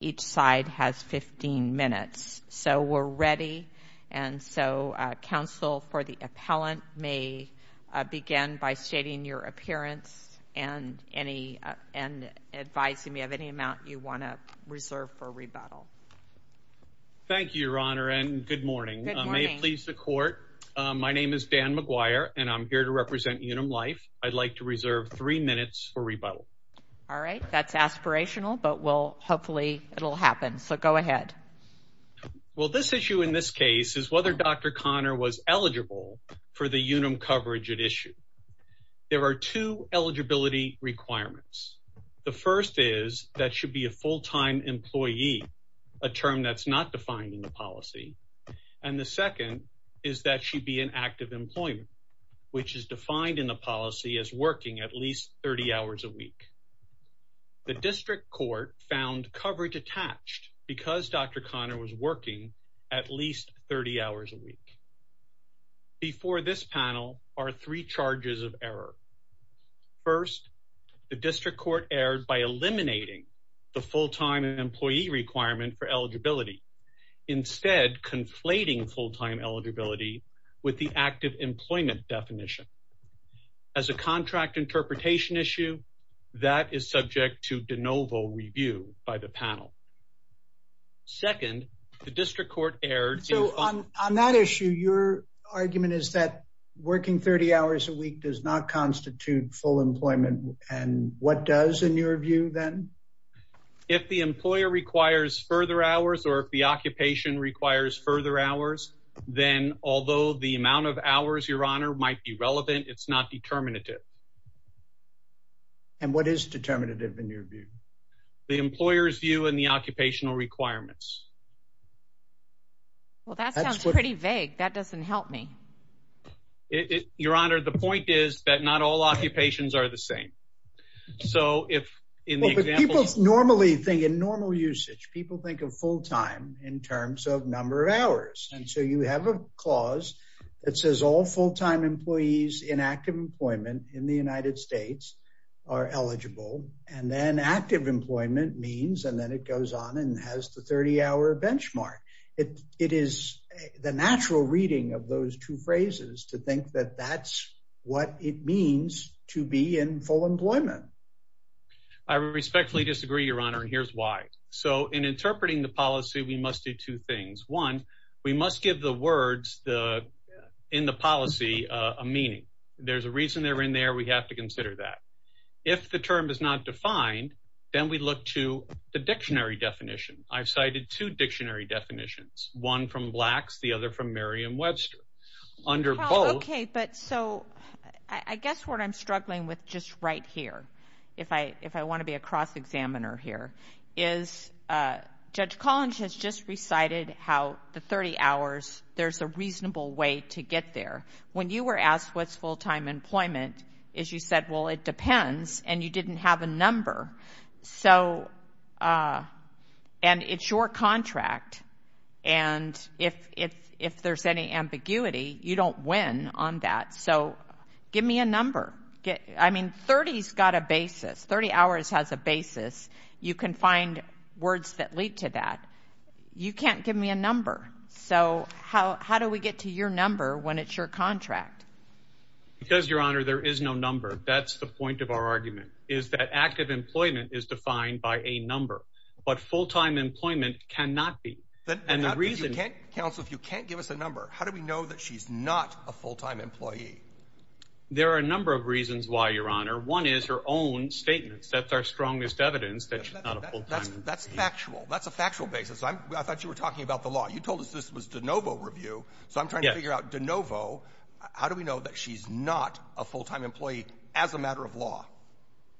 Each side has 15 minutes. So we're ready and so counsel for the appellant may begin by stating your appearance and advising me of any amount you want to reserve for rebuttal. Thank you your honor and good morning. May it please the court. My name is Dan McGuire and I'm here to represent Unum Life. I'd like to reserve three minutes for rebuttal. All right that's aspirational but we'll hopefully it'll happen so go ahead. Well this issue in this case is whether Dr. Connor was eligible for the Unum coverage at issue. There are two eligibility requirements. The first is that should be a full-time employee, a term that's not defined in the policy. And the second is that should be an active employment which is defined in the policy as working at least 30 hours a week. The district court found coverage attached because Dr. Connor was working at least 30 hours a week. Before this panel are three charges of error. First the district court erred by eliminating the full-time employee requirement for eligibility. Instead conflating full-time eligibility with the active employment definition. As a contract interpretation issue that is subject to de novo review by the panel. Second the district court erred. So on that issue your argument is that working 30 hours a week does not constitute full employment and what does in your view then? If the employer requires further hours or if the occupation requires further hours then although the amount of hours your honor might be relevant it's not determinative. And what is determinative in your view? The employer's view and the occupational requirements. Well that sounds pretty vague that doesn't help me. Your honor the point is that not all occupations are the same. So if in the examples normally think in normal usage people think of full-time in terms of number of hours and so you have a clause that says all full-time employees in active employment in the United States are eligible and then active employment means and then it goes on and has the 30-hour benchmark. It is the natural reading of those two phrases to think that that's what it means to be in full employment. I respectfully disagree your honor and here's why. So in we must give the words in the policy a meaning. There's a reason they're in there we have to consider that. If the term is not defined then we look to the dictionary definition. I've cited two dictionary definitions one from Blacks the other from Merriam-Webster under both. Okay but so I guess what I'm struggling with just right here if I want to be a cross-examiner here is Judge Collins has just recited how the 30 hours there's a reasonable way to get there. When you were asked what's full-time employment is you said well it depends and you didn't have a number. So and it's your contract and if there's any ambiguity you don't win on that. So words that lead to that you can't give me a number. So how how do we get to your number when it's your contract? Because your honor there is no number. That's the point of our argument is that active employment is defined by a number but full-time employment cannot be. Then the reason counsel if you can't give us a number how do we know that she's not a full-time employee? There are a number of reasons why your honor. One is her own statements. That's our strongest evidence that she's not a full-time employee. That's factual. That's a factual basis. I thought you were talking about the law. You told us this was DeNovo review. So I'm trying to figure out DeNovo how do we know that she's not a full-time employee as a matter of law?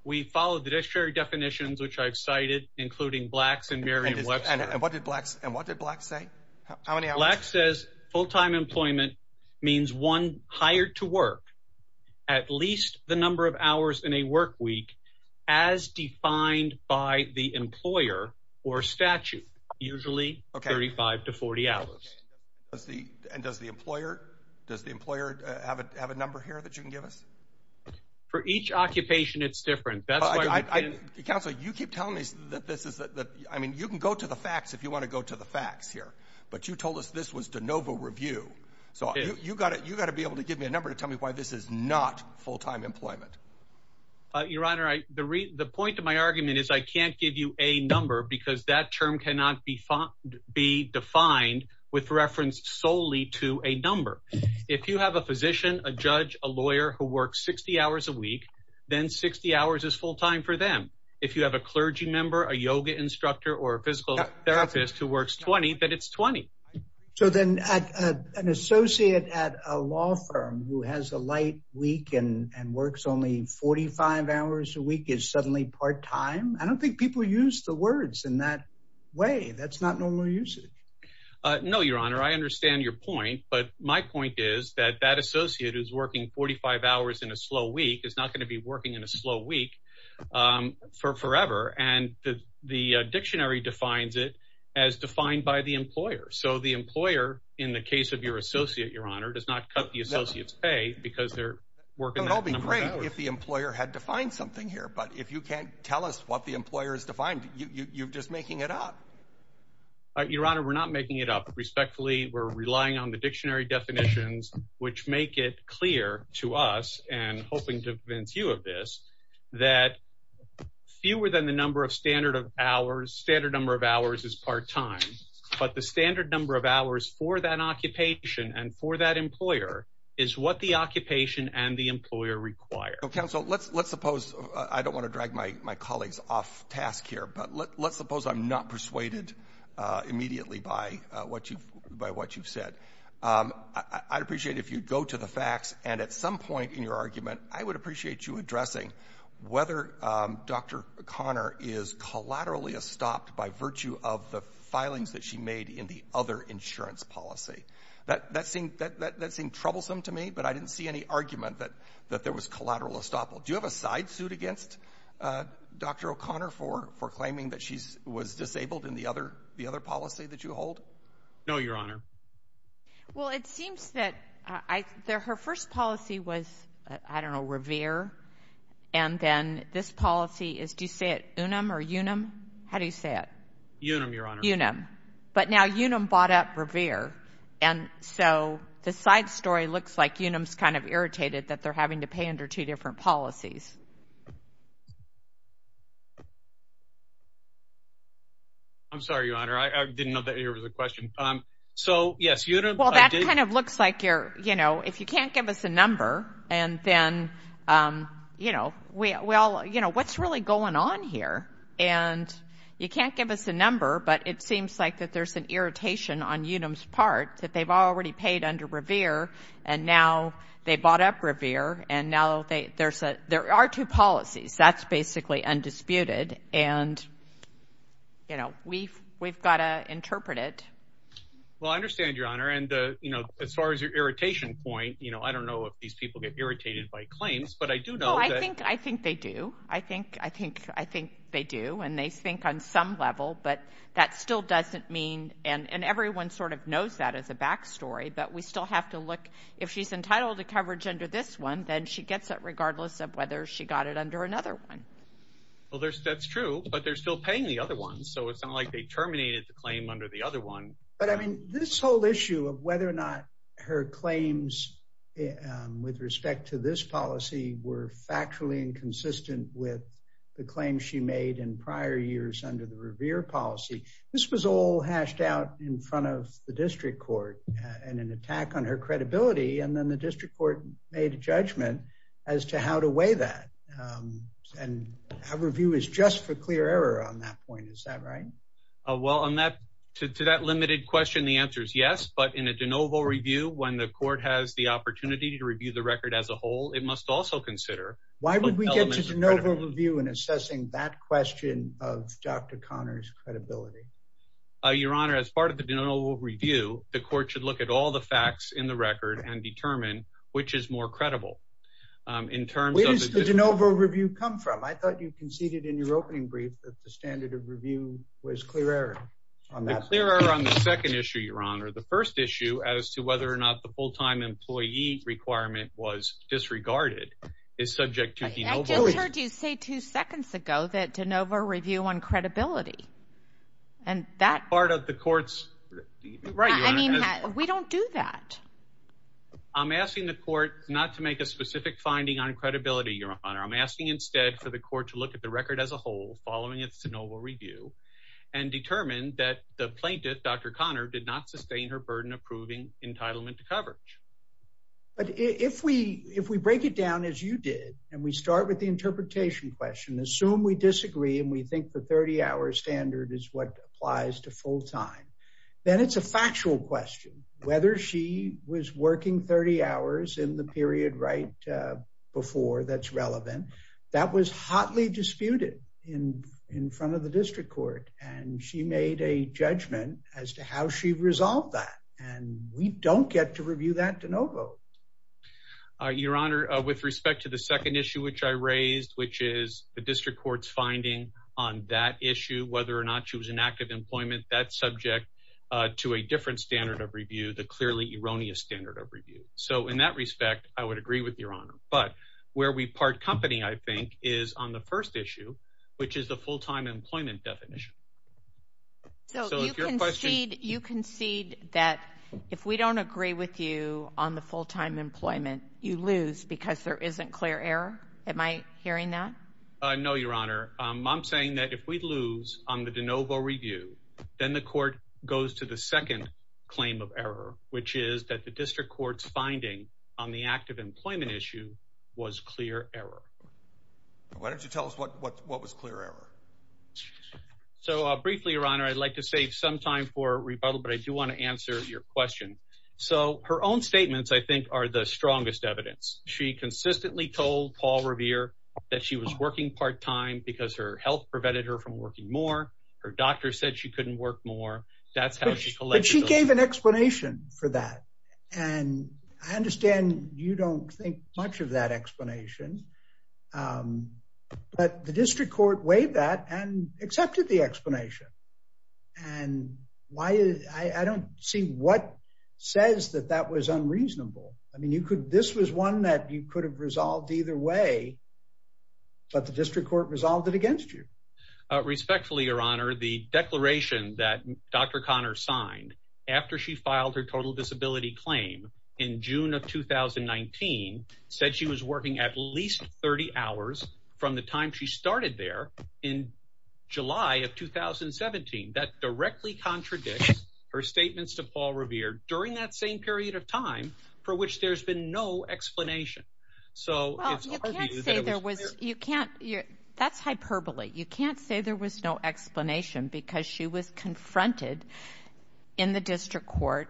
We followed the dictionary definitions which I've cited including Blacks and Merriam-Webster. And what did Blacks say? How many hours? Blacks says full-time employment means one hired to work at least the number of hours in a work week as defined by the employer or statute usually 35 to 40 hours. Does the and does the employer does the employer have a have a number here that you can give us? For each occupation it's different. That's why I counsel you keep telling me that this is that I mean you can go to the facts if you want to go to the facts here. But you told us this was DeNovo review. So you got it you got to be able to give me a number to tell me why this is not full-time employment. Your Honor, the point of my argument is I can't give you a number because that term cannot be defined with reference solely to a number. If you have a physician, a judge, a lawyer who works 60 hours a week then 60 hours is full-time for them. If you have a clergy member, a yoga instructor, or a physical therapist who works 20 that it's 20. So then an associate at a law firm who has a light week and and works only 45 hours a week is suddenly part-time. I don't think people use the words in that way. That's not normal usage. No, Your Honor. I understand your point but my point is that that associate who's working 45 hours in a slow week is not going to be working in a slow week for forever and the dictionary defines it as defined by the employer. So the employer in the case of your associate, Your Honor, does not cut the associate's pay because it'll be great if the employer had defined something here but if you can't tell us what the employer is defined you're just making it up. Your Honor, we're not making it up. Respectfully, we're relying on the dictionary definitions which make it clear to us and hoping to convince you of this that fewer than the number of standard of hours standard number of hours is part-time but the standard number of hours for that occupation and for that employer is what the occupation and the employer require. Counsel, let's suppose I don't want to drag my colleagues off task here but let's suppose I'm not persuaded immediately by what you've said. I'd appreciate if you'd go to the facts and at some point in your argument I would appreciate you addressing whether Dr. Conner is collaterally stopped by virtue of the filings that she made in the other but I didn't see any argument that there was collateral estoppel. Do you have a side suit against Dr. O'Connor for claiming that she was disabled in the other policy that you hold? No, Your Honor. Well, it seems that her first policy was, I don't know, Revere and then this policy is, do you say it Unum or Unum? How do you say it? Unum, Your Honor. Unum. But now Unum bought Revere and so the side story looks like Unum's kind of irritated that they're having to pay under two different policies. I'm sorry, Your Honor. I didn't know that here was a question. So, yes, Unum. Well, that kind of looks like you're, you know, if you can't give us a number and then, you know, we all, you know, what's really going on here? And you can't give us a number but it seems like that there's an irritation on Unum's part that they've already paid under Revere and now they bought up Revere and now there are two policies. That's basically undisputed and, you know, we've got to interpret it. Well, I understand, Your Honor, and, you know, as far as your irritation point, you know, I don't know if these people get irritated by claims but I think they do. I think they do and they think on some level but that still doesn't mean and everyone sort of knows that as a back story but we still have to look if she's entitled to coverage under this one then she gets it regardless of whether she got it under another one. Well, that's true but they're still paying the other one so it's not like they terminated the claim under the other one. But, I mean, this whole issue of whether or not her claims with respect to this policy were factually inconsistent with the claims she made in prior years under the Revere policy. This was all hashed out in front of the district court and an attack on her credibility and then the district court made a judgment as to how to weigh that and our review is just for clear error on that point. Is that right? Well, on that to that limited question, the answer is yes but in a de novo review when the court has the opportunity to review the record as a whole it must also consider. Why would we get to de novo review in assessing that question of Dr. Connor's credibility? Your honor, as part of the de novo review the court should look at all the facts in the record and determine which is more credible. Where does the de novo review come from? I thought you conceded in your opening brief that the standard of review was clear error on that. Clear error on the second issue, your honor. The first issue as to whether or not the full-time employee requirement was disregarded is subject to de novo. I just heard you say two seconds ago that de novo review on credibility and that part of the court's right. I mean we don't do that. I'm asking the court not to make a specific finding on credibility, your honor. I'm asking instead for the court to look at the record as a whole following its de novo review and determine that the plaintiff, Dr. Connor, did not sustain her burden approving entitlement to coverage. But if we break it down as you did and we start with the interpretation question, assume we disagree and we think the 30-hour standard is what applies to full-time, then it's a factual question whether she was working 30 hours in the period right before that's relevant. That was hotly disputed in front of the district court and she made a judgment as to how she resolved that and we don't get to review that de novo. Your honor, with respect to the second issue which I raised, which is the district court's finding on that issue, whether or not she was in active employment, that's subject to a different standard of review, the clearly erroneous standard of review. So in that respect, I would agree with your honor. But where we part company I think is on the first issue, which is the full-time employment definition. So you concede that if we don't agree with you on the full-time employment, you lose because there isn't clear error? Am I hearing that? No, your honor. I'm saying that if we lose on the de novo review, then the court goes to the second claim of error, which is that the district court's finding on the active employment issue was clear error. Why don't you tell us what was clear error? So briefly, your honor, I'd like to save some time for rebuttal, but I do want to answer your question. So her own statements, I think, are the strongest evidence. She consistently told Paul Revere that she was working part-time because her health prevented her from working more. Her doctor said she couldn't work more. That's how she collected. She gave an explanation for that and I understand you don't think much of that explanation. But the district court weighed that and accepted the explanation. And why? I don't see what says that that was unreasonable. I mean, you could, this was one that you could have resolved either way, but the district court resolved it against you. Respectfully, your honor, the declaration that Dr. Conner signed after she filed her total disability claim in June of 2019 said she was working at least 30 hours from the time she started there in July of 2017. That directly contradicts her statements to Paul Revere during that same period of time for which there's been no explanation. So you can't say there was, you can't, that's hyperbole. You can't say there was no explanation because she was confronted in the district court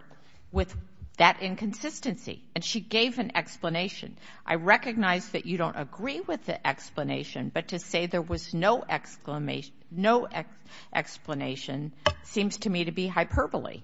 with that inconsistency and she gave an explanation. I recognize that you don't agree with the explanation, but to say there was no explanation seems to me to be hyperbole.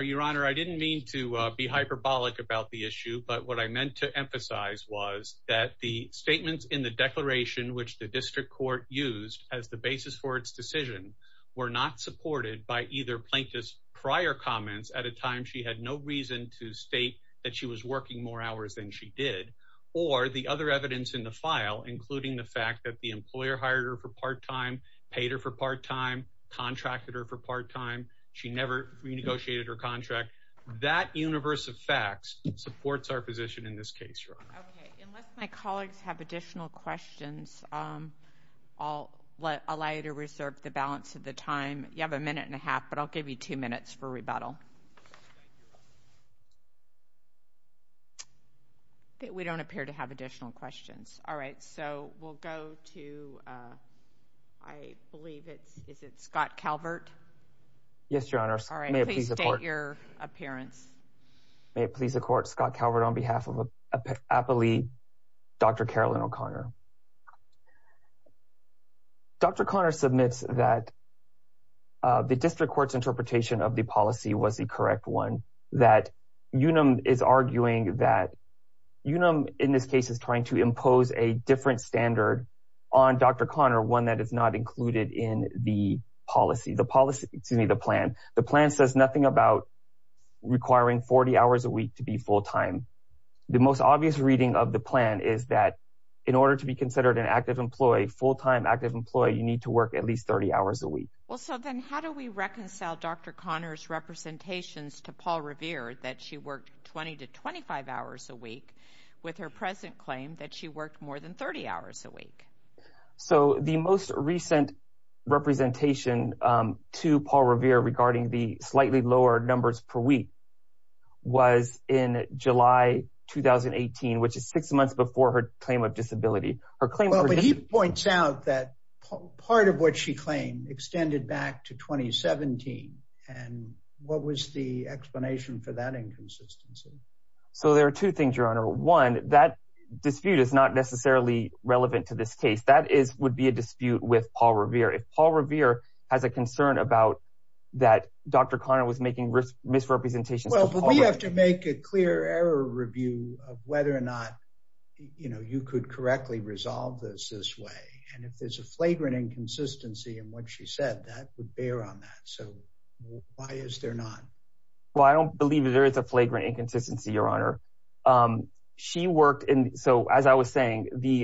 Your honor, I didn't mean to be hyperbolic about the issue, but what I meant to emphasize was that the statements in the declaration, which the district court used as the basis for its decision, were not supported by either plaintiff's prior comments at a time she had no reason to state that she was working more hours than she did, or the other evidence in the file, including the fact that the employer hired her for part-time, paid her for part-time, contracted her for part-time, she never renegotiated her contract. That universe of facts supports our position in this case, your honor. Okay, unless my colleagues have additional questions, I'll allow you to reserve the balance of the time. You have a minute and a half, but I'll give you two minutes for rebuttal. We don't appear to have additional questions. All right, so we'll go to, I believe it's, is it Scott Calvert? Yes, your honor. All right, please state your appearance. May it please the court, Scott Calvert on behalf of Appley, Dr. Carolyn O'Connor. Dr. Conner submits that the district court's interpretation of the policy was the correct one, that Unum is arguing that, Unum in this case is trying to impose a different standard on Dr. Conner, one that is not included in the policy, the policy, excuse me, the plan. The plan says nothing about requiring 40 hours a week to be full-time. The most obvious reading of the plan is that in order to be considered an active employee, full-time active employee, you need to work at least 30 hours a week. Well, so then how do we reconcile Dr. Conner's representations to Paul Revere that she worked 20 to 25 hours a week with her present claim that she worked more than 30 hours a week? So the most recent representation to Paul Revere regarding the slightly lower numbers per week was in July 2018, which is six months before her claim of disability. Well, but he points out that part of what she claimed extended back to 2017, and what was the explanation for that inconsistency? So there are two things, your honor. One, that dispute is not necessarily relevant to this case. That is, would be a dispute with Paul Revere. If Paul Revere has a concern about that Dr. Conner was making misrepresentations. Well, but we have to make a clear error review of whether or not, you know, you could correctly resolve this this way. And if there's a flagrant inconsistency in what she said, that would bear on that. So why is there not? Well, I don't The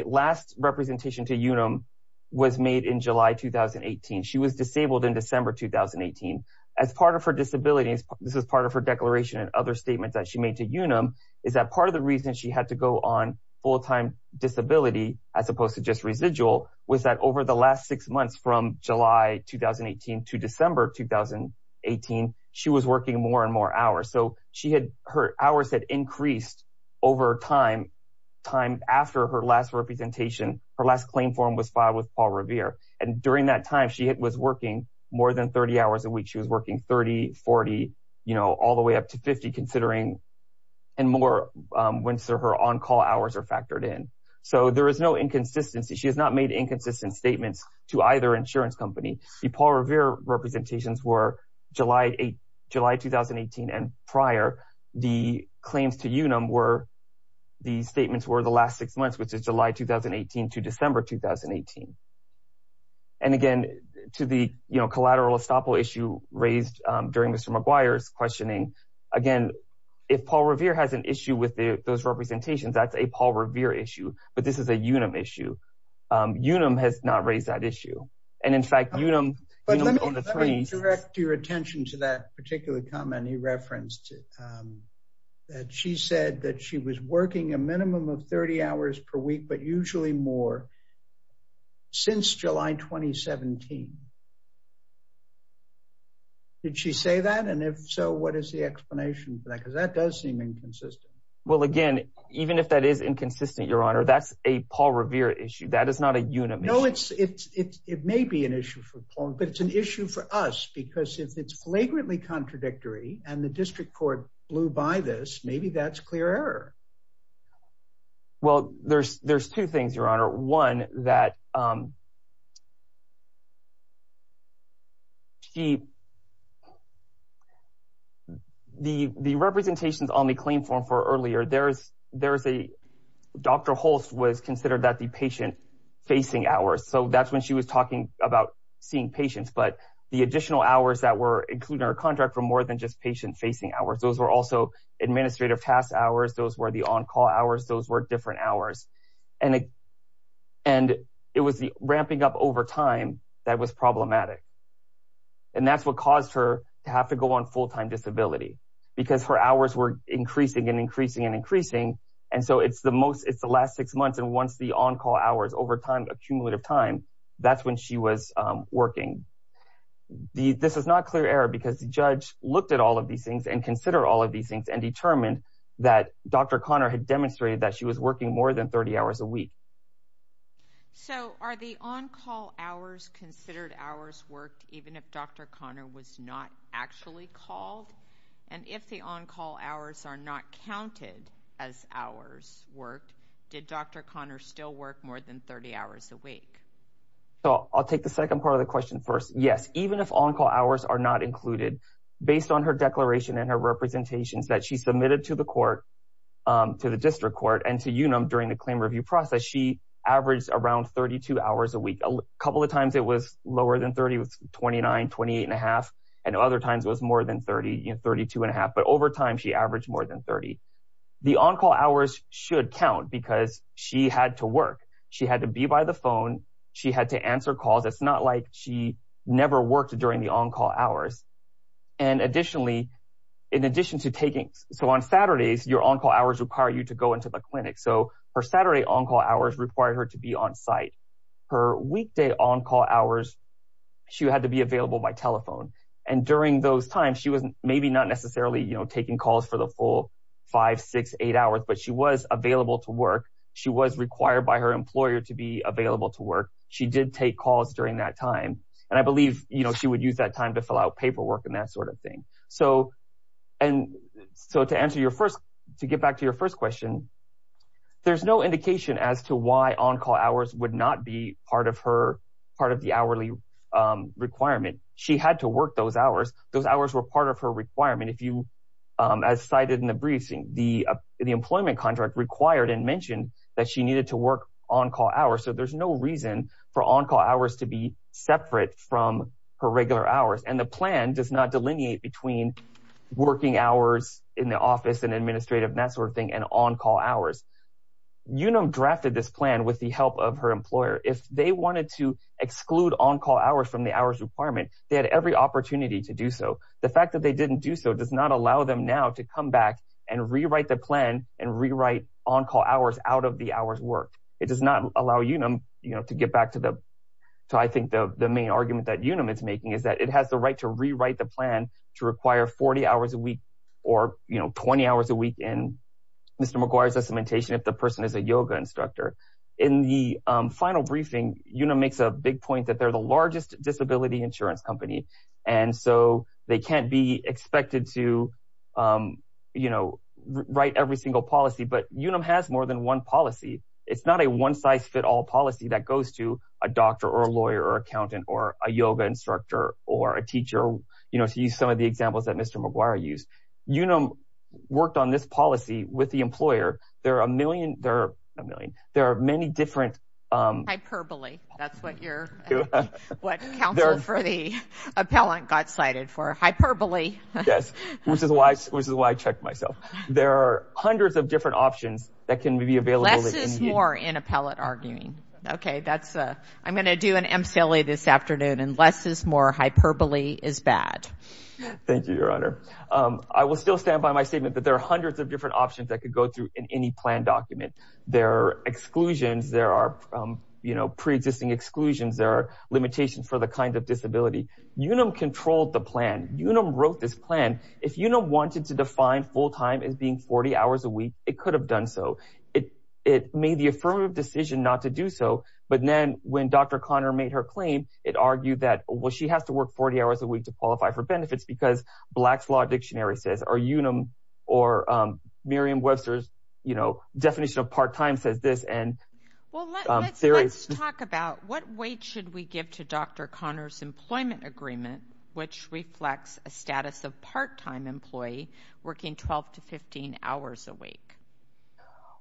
last representation to Unum was made in July 2018. She was disabled in December 2018. As part of her disability, this is part of her declaration and other statements that she made to Unum, is that part of the reason she had to go on full-time disability, as opposed to just residual, was that over the last six months from July 2018 to December 2018, she was working more and more So she had her hours had increased over time. Time after her last representation, her last claim form was filed with Paul Revere. And during that time, she was working more than 30 hours a week. She was working 30, 40, you know, all the way up to 50, considering and more when her on-call hours are factored in. So there is no inconsistency. She has not made inconsistent statements to either The Paul Revere representations were July 2018 and prior. The claims to Unum were the statements were the last six months, which is July 2018 to December 2018. And again, to the, you know, collateral estoppel issue raised during Mr. McGuire's questioning, again, if Paul Revere has an issue with those representations, that's a Paul Revere issue, but this is a Unum issue. Unum has not raised that issue. And in fact, Unum direct your attention to that particular comment he referenced that she said that she was working a minimum of 30 hours per week, but usually more since July 2017. Did she say that? And if so, what is the explanation for that? Because that does seem inconsistent. Well, again, even if that is inconsistent, Your Honor, that's a Paul Revere issue. That is not a Unum issue. No, it may be an issue for Paul, but it's an issue for us because if it's flagrantly contradictory and the district court blew by this, maybe that's clear error. Well, there's two things, Your Honor. One, that she, the representations on the claim form for earlier, there's a, Dr. Holst was considered that the patient-facing hours. So that's when she was talking about seeing patients, but the additional hours that were included in her contract were more than just patient-facing hours. Those were also administrative task hours. Those were the on-call hours. Those were different hours. And it was the ramping up over time that was problematic. And that's what caused her to have to go on full-time disability because her hours were increasing and increasing and increasing. And so it's the most, it's the last six months. And once the on-call hours over time, accumulative time, that's when she was working. This is not clear error because the judge looked at all of these things and consider all of these things and determined that Dr. Connor had 30 hours a week. So are the on-call hours considered hours worked even if Dr. Connor was not actually called? And if the on-call hours are not counted as hours worked, did Dr. Connor still work more than 30 hours a week? So I'll take the second part of the question first. Yes. Even if on-call hours are not included, based on her declaration and her representations that she submitted to the court, to the district court and to UNUM during the claim review process, she averaged around 32 hours a week. A couple of times it was lower than 30, it was 29, 28 and a half. And other times it was more than 30, 32 and a half. But over time, she averaged more than 30. The on-call hours should count because she had to work. She had to be by the phone. She had to answer calls. It's not like she never worked during the on-call hours. And additionally, in addition to taking, so on Saturdays, your on-call hours require you to go into the clinic. So her Saturday on-call hours require her to be on site. Her weekday on-call hours, she had to be available by telephone. And during those times, she wasn't maybe not necessarily taking calls for the full five, six, eight hours, but she was available to work. She was required by her employer to be available to work. She did take calls during that time. And I believe she would use that time to fill out paperwork and that sort of thing. So to answer your first, to get back to your first question, there's no indication as to why on-call hours would not be part of her, part of the hourly requirement. She had to work those hours. Those hours were part of her requirement. If you, as cited in the briefing, the employment contract required and mentioned that she needed to work on-call hours. So there's no reason for on-call hours to be separate from her regular hours. And the plan does not delineate between working hours in the office and administrative and that sort of thing and on-call hours. Unum drafted this plan with the help of her employer. If they wanted to exclude on-call hours from the hours requirement, they had every opportunity to do so. The fact that they didn't do so does not allow them now to come back and rewrite the plan and rewrite on-call hours out the hours worked. It does not allow Unum to get back to the, I think the main argument that Unum is making is that it has the right to rewrite the plan to require 40 hours a week or 20 hours a week in Mr. McGuire's documentation if the person is a yoga instructor. In the final briefing, Unum makes a big point that they're the largest disability insurance company. And so they can't be expected to, you know, write every single policy. But Unum has more than one policy. It's not a one-size-fit-all policy that goes to a doctor or a lawyer or accountant or a yoga instructor or a teacher, you know, to use some of the examples that Mr. McGuire used. Unum worked on this policy with the employer. There are a million, there are a million, there are many different, um, hyperbole. That's what you're, what counsel for the appellant got cited for, hyperbole. Yes, which is why, which is why I checked myself. There are hundreds of different options that can be available. Less is more in appellate arguing. Okay, that's, uh, I'm going to do an MCLA this afternoon and less is more hyperbole is bad. Thank you, your honor. Um, I will still stand by my statement that there are hundreds of different options that could go through in any plan document. There are exclusions, there are, um, you know, pre-existing exclusions, there are limitations for the kinds of disability. Unum controlled the plan. Unum wrote this plan. If Unum wanted to define full-time as being 40 hours a week, it could have done so. It, it made the affirmative decision not to do so. But then when Dr. Conner made her claim, it argued that, well, she has to work 40 hours a week to qualify for benefits because Black's Law Dictionary says, or Unum, or, um, Miriam Webster's, you know, definition of part-time says this, and, um, there is... Well, let's, let's talk about what weight should we give to Dr. Conner's employment agreement, which reflects a status of part-time employee working 12 to 15 hours a week?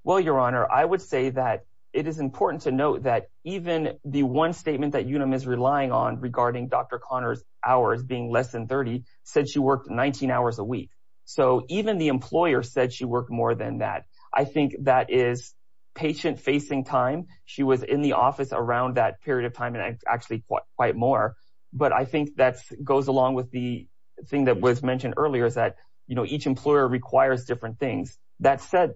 Well, your honor, I would say that it is important to note that even the one statement that Unum is relying on regarding Dr. Conner's hours being less than 30 said she worked 19 hours a week. So even the employer said she worked more than that. I think that is patient-facing time. She was in the office around that period of time, and actually quite more. But I think that goes along with the thing that was mentioned earlier is that, you know, each employer requires different things. That said,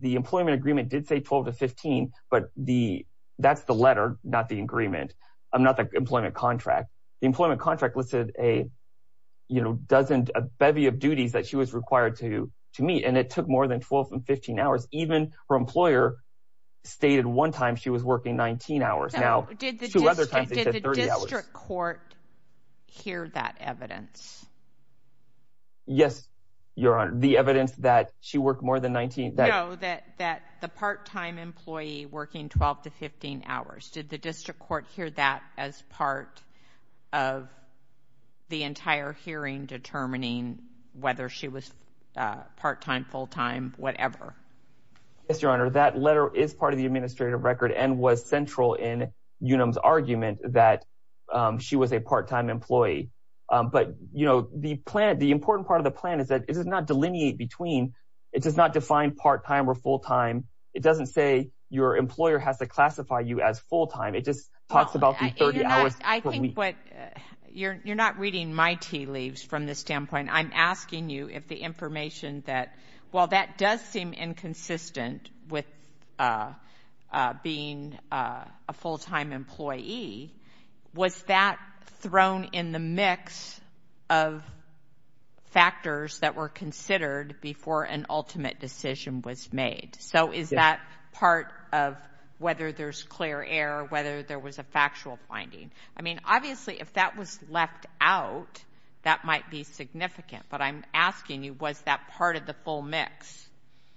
the employment agreement did say 12 to 15, but the, that's the letter, not the agreement, um, not the employment contract. The employment contract listed a, you know, dozen, a bevy of duties that she was required to, to meet, and it took more than 12 and 15 hours. Even her employer stated one time she was working 19 hours. Now, two other times it said 30 hours. Did the district court hear that evidence? Yes, your honor. The evidence that she worked more than 19... No, that, that the part-time employee working 12 to 15 hours. Did the district court hear that as part of the entire hearing determining whether she was part-time, full-time, whatever? Yes, your honor. That letter is part of the administrative record and was central in Unum's argument that she was a part-time employee. But, you know, the plan, the important part of the plan is that it does not delineate between, it does not define part-time or full-time. It doesn't say your employer has to classify you as full-time. It just talks about the 30 hours. I think what, you're, you're not reading my tea leaves from this standpoint. I'm asking you if the information that, while that does seem inconsistent with, uh, uh, being, uh, a full-time employee, was that thrown in the mix of factors that were considered before an ultimate decision was made. So is that part of whether there's clear air, whether there was a factual finding? I mean, obviously if that was left out, that might be significant, but I'm asking you, was that part of the full mix?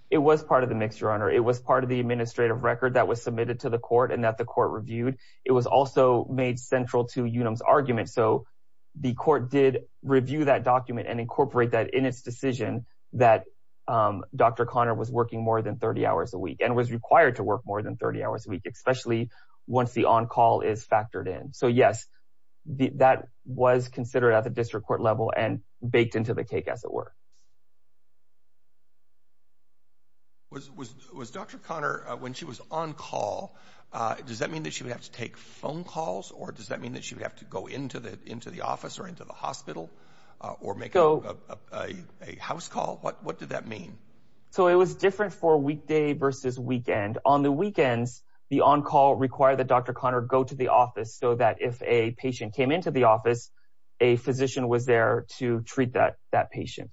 It was part of the mix, your honor. It was part of the administrative record that was submitted to the court and that the court reviewed. It was also made central to Unum's argument. So the court did review that document and incorporate that in its decision that, um, Dr. Conner was working more than 30 hours a week and was required to work more than 30 hours a week, especially once the on-call is factored in. So yes, that was considered at the district court level and baked into the cake as it were. Was, was, was Dr. Conner, uh, when she was on call, uh, does that mean that she would have to take phone calls or does that mean that she would have to go into the, into the office or into the a house call? What, what did that mean? So it was different for weekday versus weekend. On the weekends, the on-call required that Dr. Conner go to the office so that if a patient came into the office, a physician was there to treat that, that patient.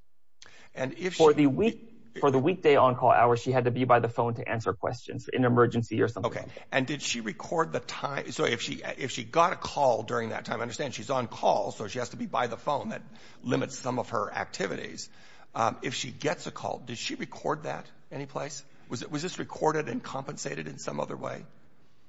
And if for the week, for the weekday on call hours, she had to be by the phone to answer questions in emergency or something. Okay. And did she record the time? So if she, if she got a call during that time, I understand she's on call, so she has to be by the phone that limits some of her activities. Um, if she gets a call, did she record that any place? Was it, was this recorded and compensated in some other way?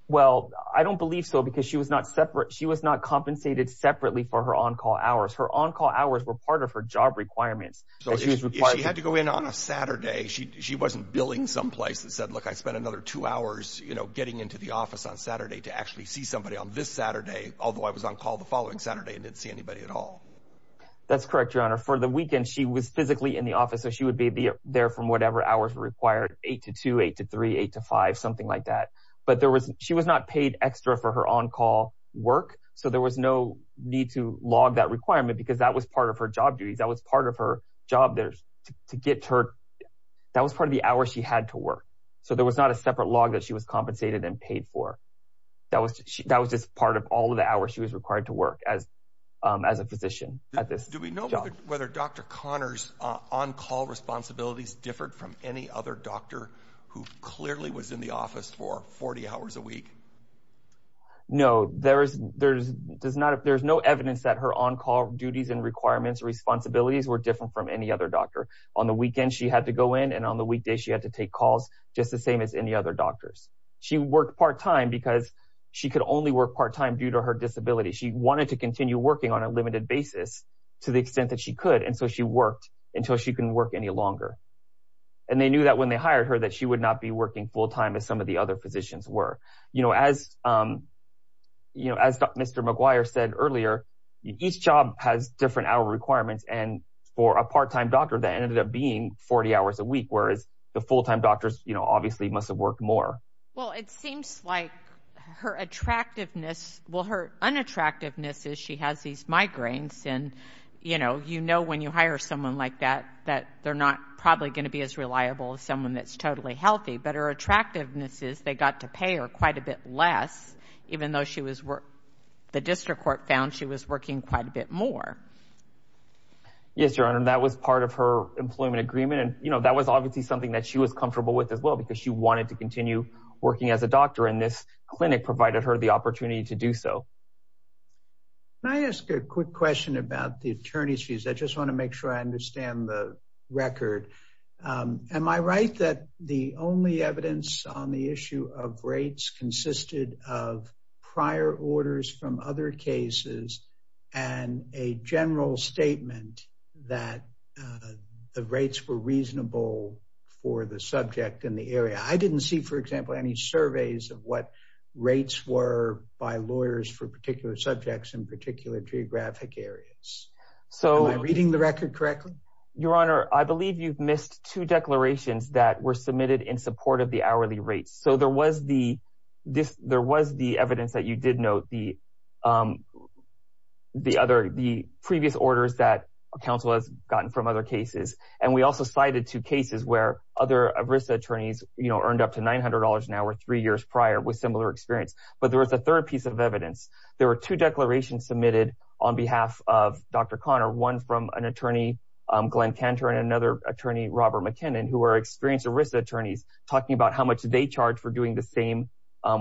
Well, I don't believe so because she was not separate. She was not compensated separately for her on-call hours. Her on-call hours were part of her job requirements. So she was required to go in on a Saturday. She, she wasn't billing someplace that said, look, I spent another two hours, you know, getting into the office on Saturday to actually see somebody on this Saturday. Although I was on call the following Saturday and didn't see anybody at all. That's correct. Your honor for the weekend, she was physically in the office. So she would be there from whatever hours were required eight to two, eight to three, eight to five, something like that. But there was, she was not paid extra for her on-call work. So there was no need to log that requirement because that was part of her job duties. That was part of her job there to get her. That was part of the hour she had to work. So there was not a that was just part of all of the hours she was required to work as, as a physician at this. Do we know whether Dr. Connors on-call responsibilities differed from any other doctor who clearly was in the office for 40 hours a week? No, there is, there's does not. If there's no evidence that her on-call duties and requirements responsibilities were different from any other doctor on the weekend, she had to go in and on the weekday, she had to take calls just the same as any other doctors. She worked part-time because she could only work part-time due to her disability. She wanted to continue working on a limited basis to the extent that she could. And so she worked until she couldn't work any longer. And they knew that when they hired her, that she would not be working full-time as some of the other positions were, you know, as you know, as Mr. McGuire said earlier, each job has different hour requirements. And for a part-time doctor that ended up being 40 hours a week, whereas the full-time doctors, you know, obviously must've worked more. Well, it seems like her attractiveness, well, her unattractiveness is she has these migraines and, you know, you know, when you hire someone like that, that they're not probably going to be as reliable as someone that's totally healthy, but her attractiveness is they got to pay her quite a bit less, even though she was, the district court found she was working quite a bit more. Yes, Your Honor, that was part of her employment agreement. And, you know, that was obviously something that she was comfortable with as well, because she wanted to continue working as a doctor and this clinic provided her the opportunity to do so. Can I ask a quick question about the attorney's fees? I just want to make sure I understand the record. Am I right that the only evidence on the issue of rates consisted of prior orders from other cases and a general statement that the rates were reasonable for the subject in the area? I didn't see, for example, any surveys of what rates were by lawyers for particular subjects in particular geographic areas. Am I reading the record correctly? Your Honor, I believe you've missed two declarations that were submitted in support of the hourly rates. So there was the evidence that you did note, the previous orders that counsel has gotten from other cases. And we also cited two cases where other ARISTA attorneys, you know, earned up to $900 an hour three years prior with similar experience. But there was a third piece of evidence. There were two declarations submitted on behalf of Dr. Conner, one from an attorney, Glenn Cantor, and another attorney, Robert McKinnon, who are experienced ARISTA attorneys talking about how much they charge for doing the same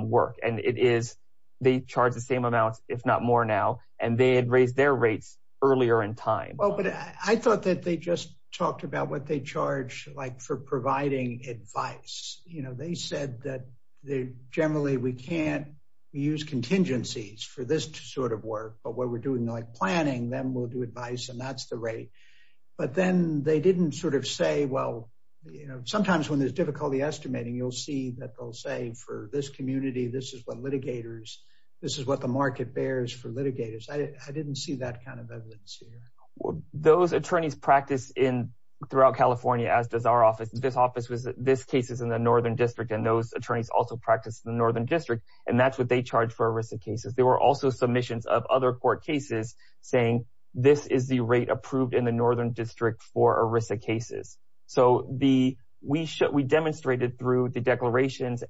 work. And it is they charge the same amount, if not more now, and they had raised their rates earlier in time. Well, but I thought that they just talked about what they charge like for providing advice. You know, they said that they generally we can't use contingencies for this sort of work, but what we're doing like planning, then we'll do advice and that's the rate. But then they didn't sort of say, well, you know, sometimes when there's difficulty estimating, you'll see that they'll say for this community, this is what litigators, this is what the market bears for litigators. I didn't see that kind of evidence here. Those attorneys practice in throughout California, as does our office, this office was this case is in the Northern District. And those attorneys also practice in the Northern District. And that's what they charge for ARISTA cases. There were also submissions of other court cases saying this is the rate approved in the declarations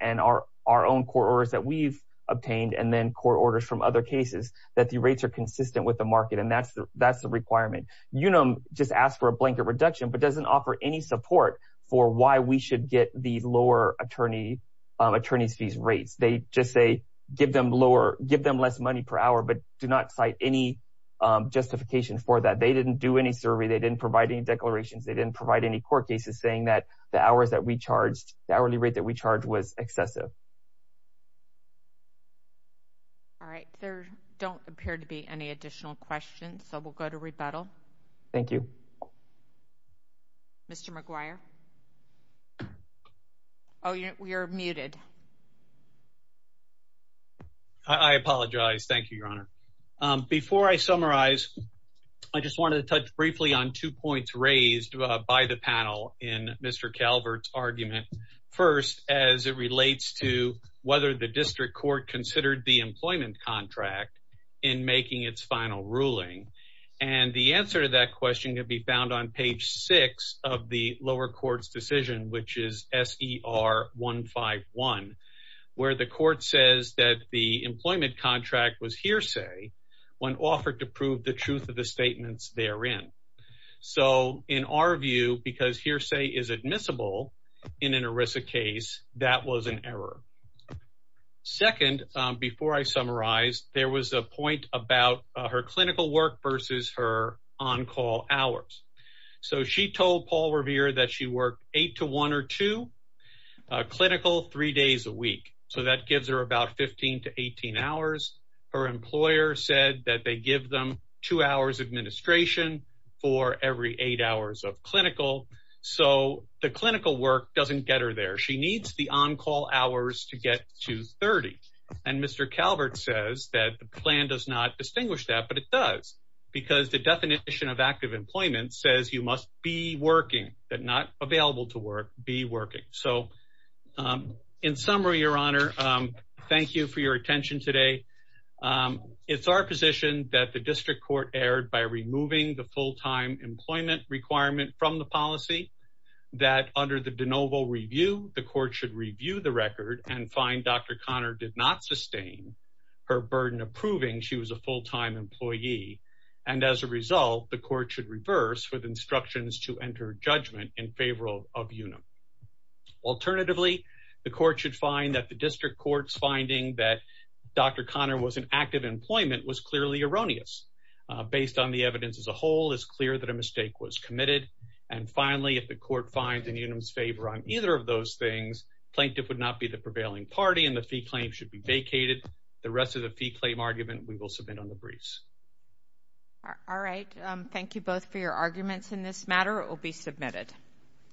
and our own court orders that we've obtained and then court orders from other cases, that the rates are consistent with the market. And that's the requirement. Unum just asked for a blanket reduction, but doesn't offer any support for why we should get the lower attorney's fees rates. They just say, give them lower, give them less money per hour, but do not cite any justification for that. They didn't do any survey. They didn't provide any declarations. They didn't provide any court cases saying that the hours that we charged, the hourly rate that we charged was excessive. All right, there don't appear to be any additional questions. So we'll go to rebuttal. Thank you, Mr. McGuire. Oh, you're muted. I apologize. Thank you, Your Honor. Before I summarize, I just wanted to touch briefly on two points raised by the panel in Mr. Calvert's argument. First, as it relates to whether the district court considered the employment contract in making its final ruling. And the answer to that question can be found on page six of the lower court's decision, which is S.E.R. 151, where the court says that the employment contract was hearsay when offered to prove the truth of the case. So in our view, because hearsay is admissible in an ERISA case, that was an error. Second, before I summarize, there was a point about her clinical work versus her on-call hours. So she told Paul Revere that she worked eight to one or two clinical, three days a week. So that gives her about 15 to 18 hours. Her employer said that they give them two hours administration for every eight hours of clinical. So the clinical work doesn't get her there. She needs the on-call hours to get to 30. And Mr. Calvert says that the plan does not distinguish that, but it does because the definition of active employment says you must be working, but not available to work, be working. So in summary, Your Honor, thank you for your attention today. It's our position that the district court erred by removing the full-time employment requirement from the policy that under the de novo review, the court should review the record and find Dr. Conner did not sustain her burden of proving she was a full-time employee. And as a result, the court should reverse with instructions to enter judgment in favor of Unum. Alternatively, the court should find that the district court's finding that Dr. Conner was in active employment was clearly erroneous. Based on the evidence as a whole, it's clear that a mistake was committed. And finally, if the court finds Unum's favor on either of those things, plaintiff would not be the prevailing party and the fee claim should be vacated. The rest of the fee claim argument, we will submit on the briefs. All right. Thank you both for your arguments in this matter. It will be submitted.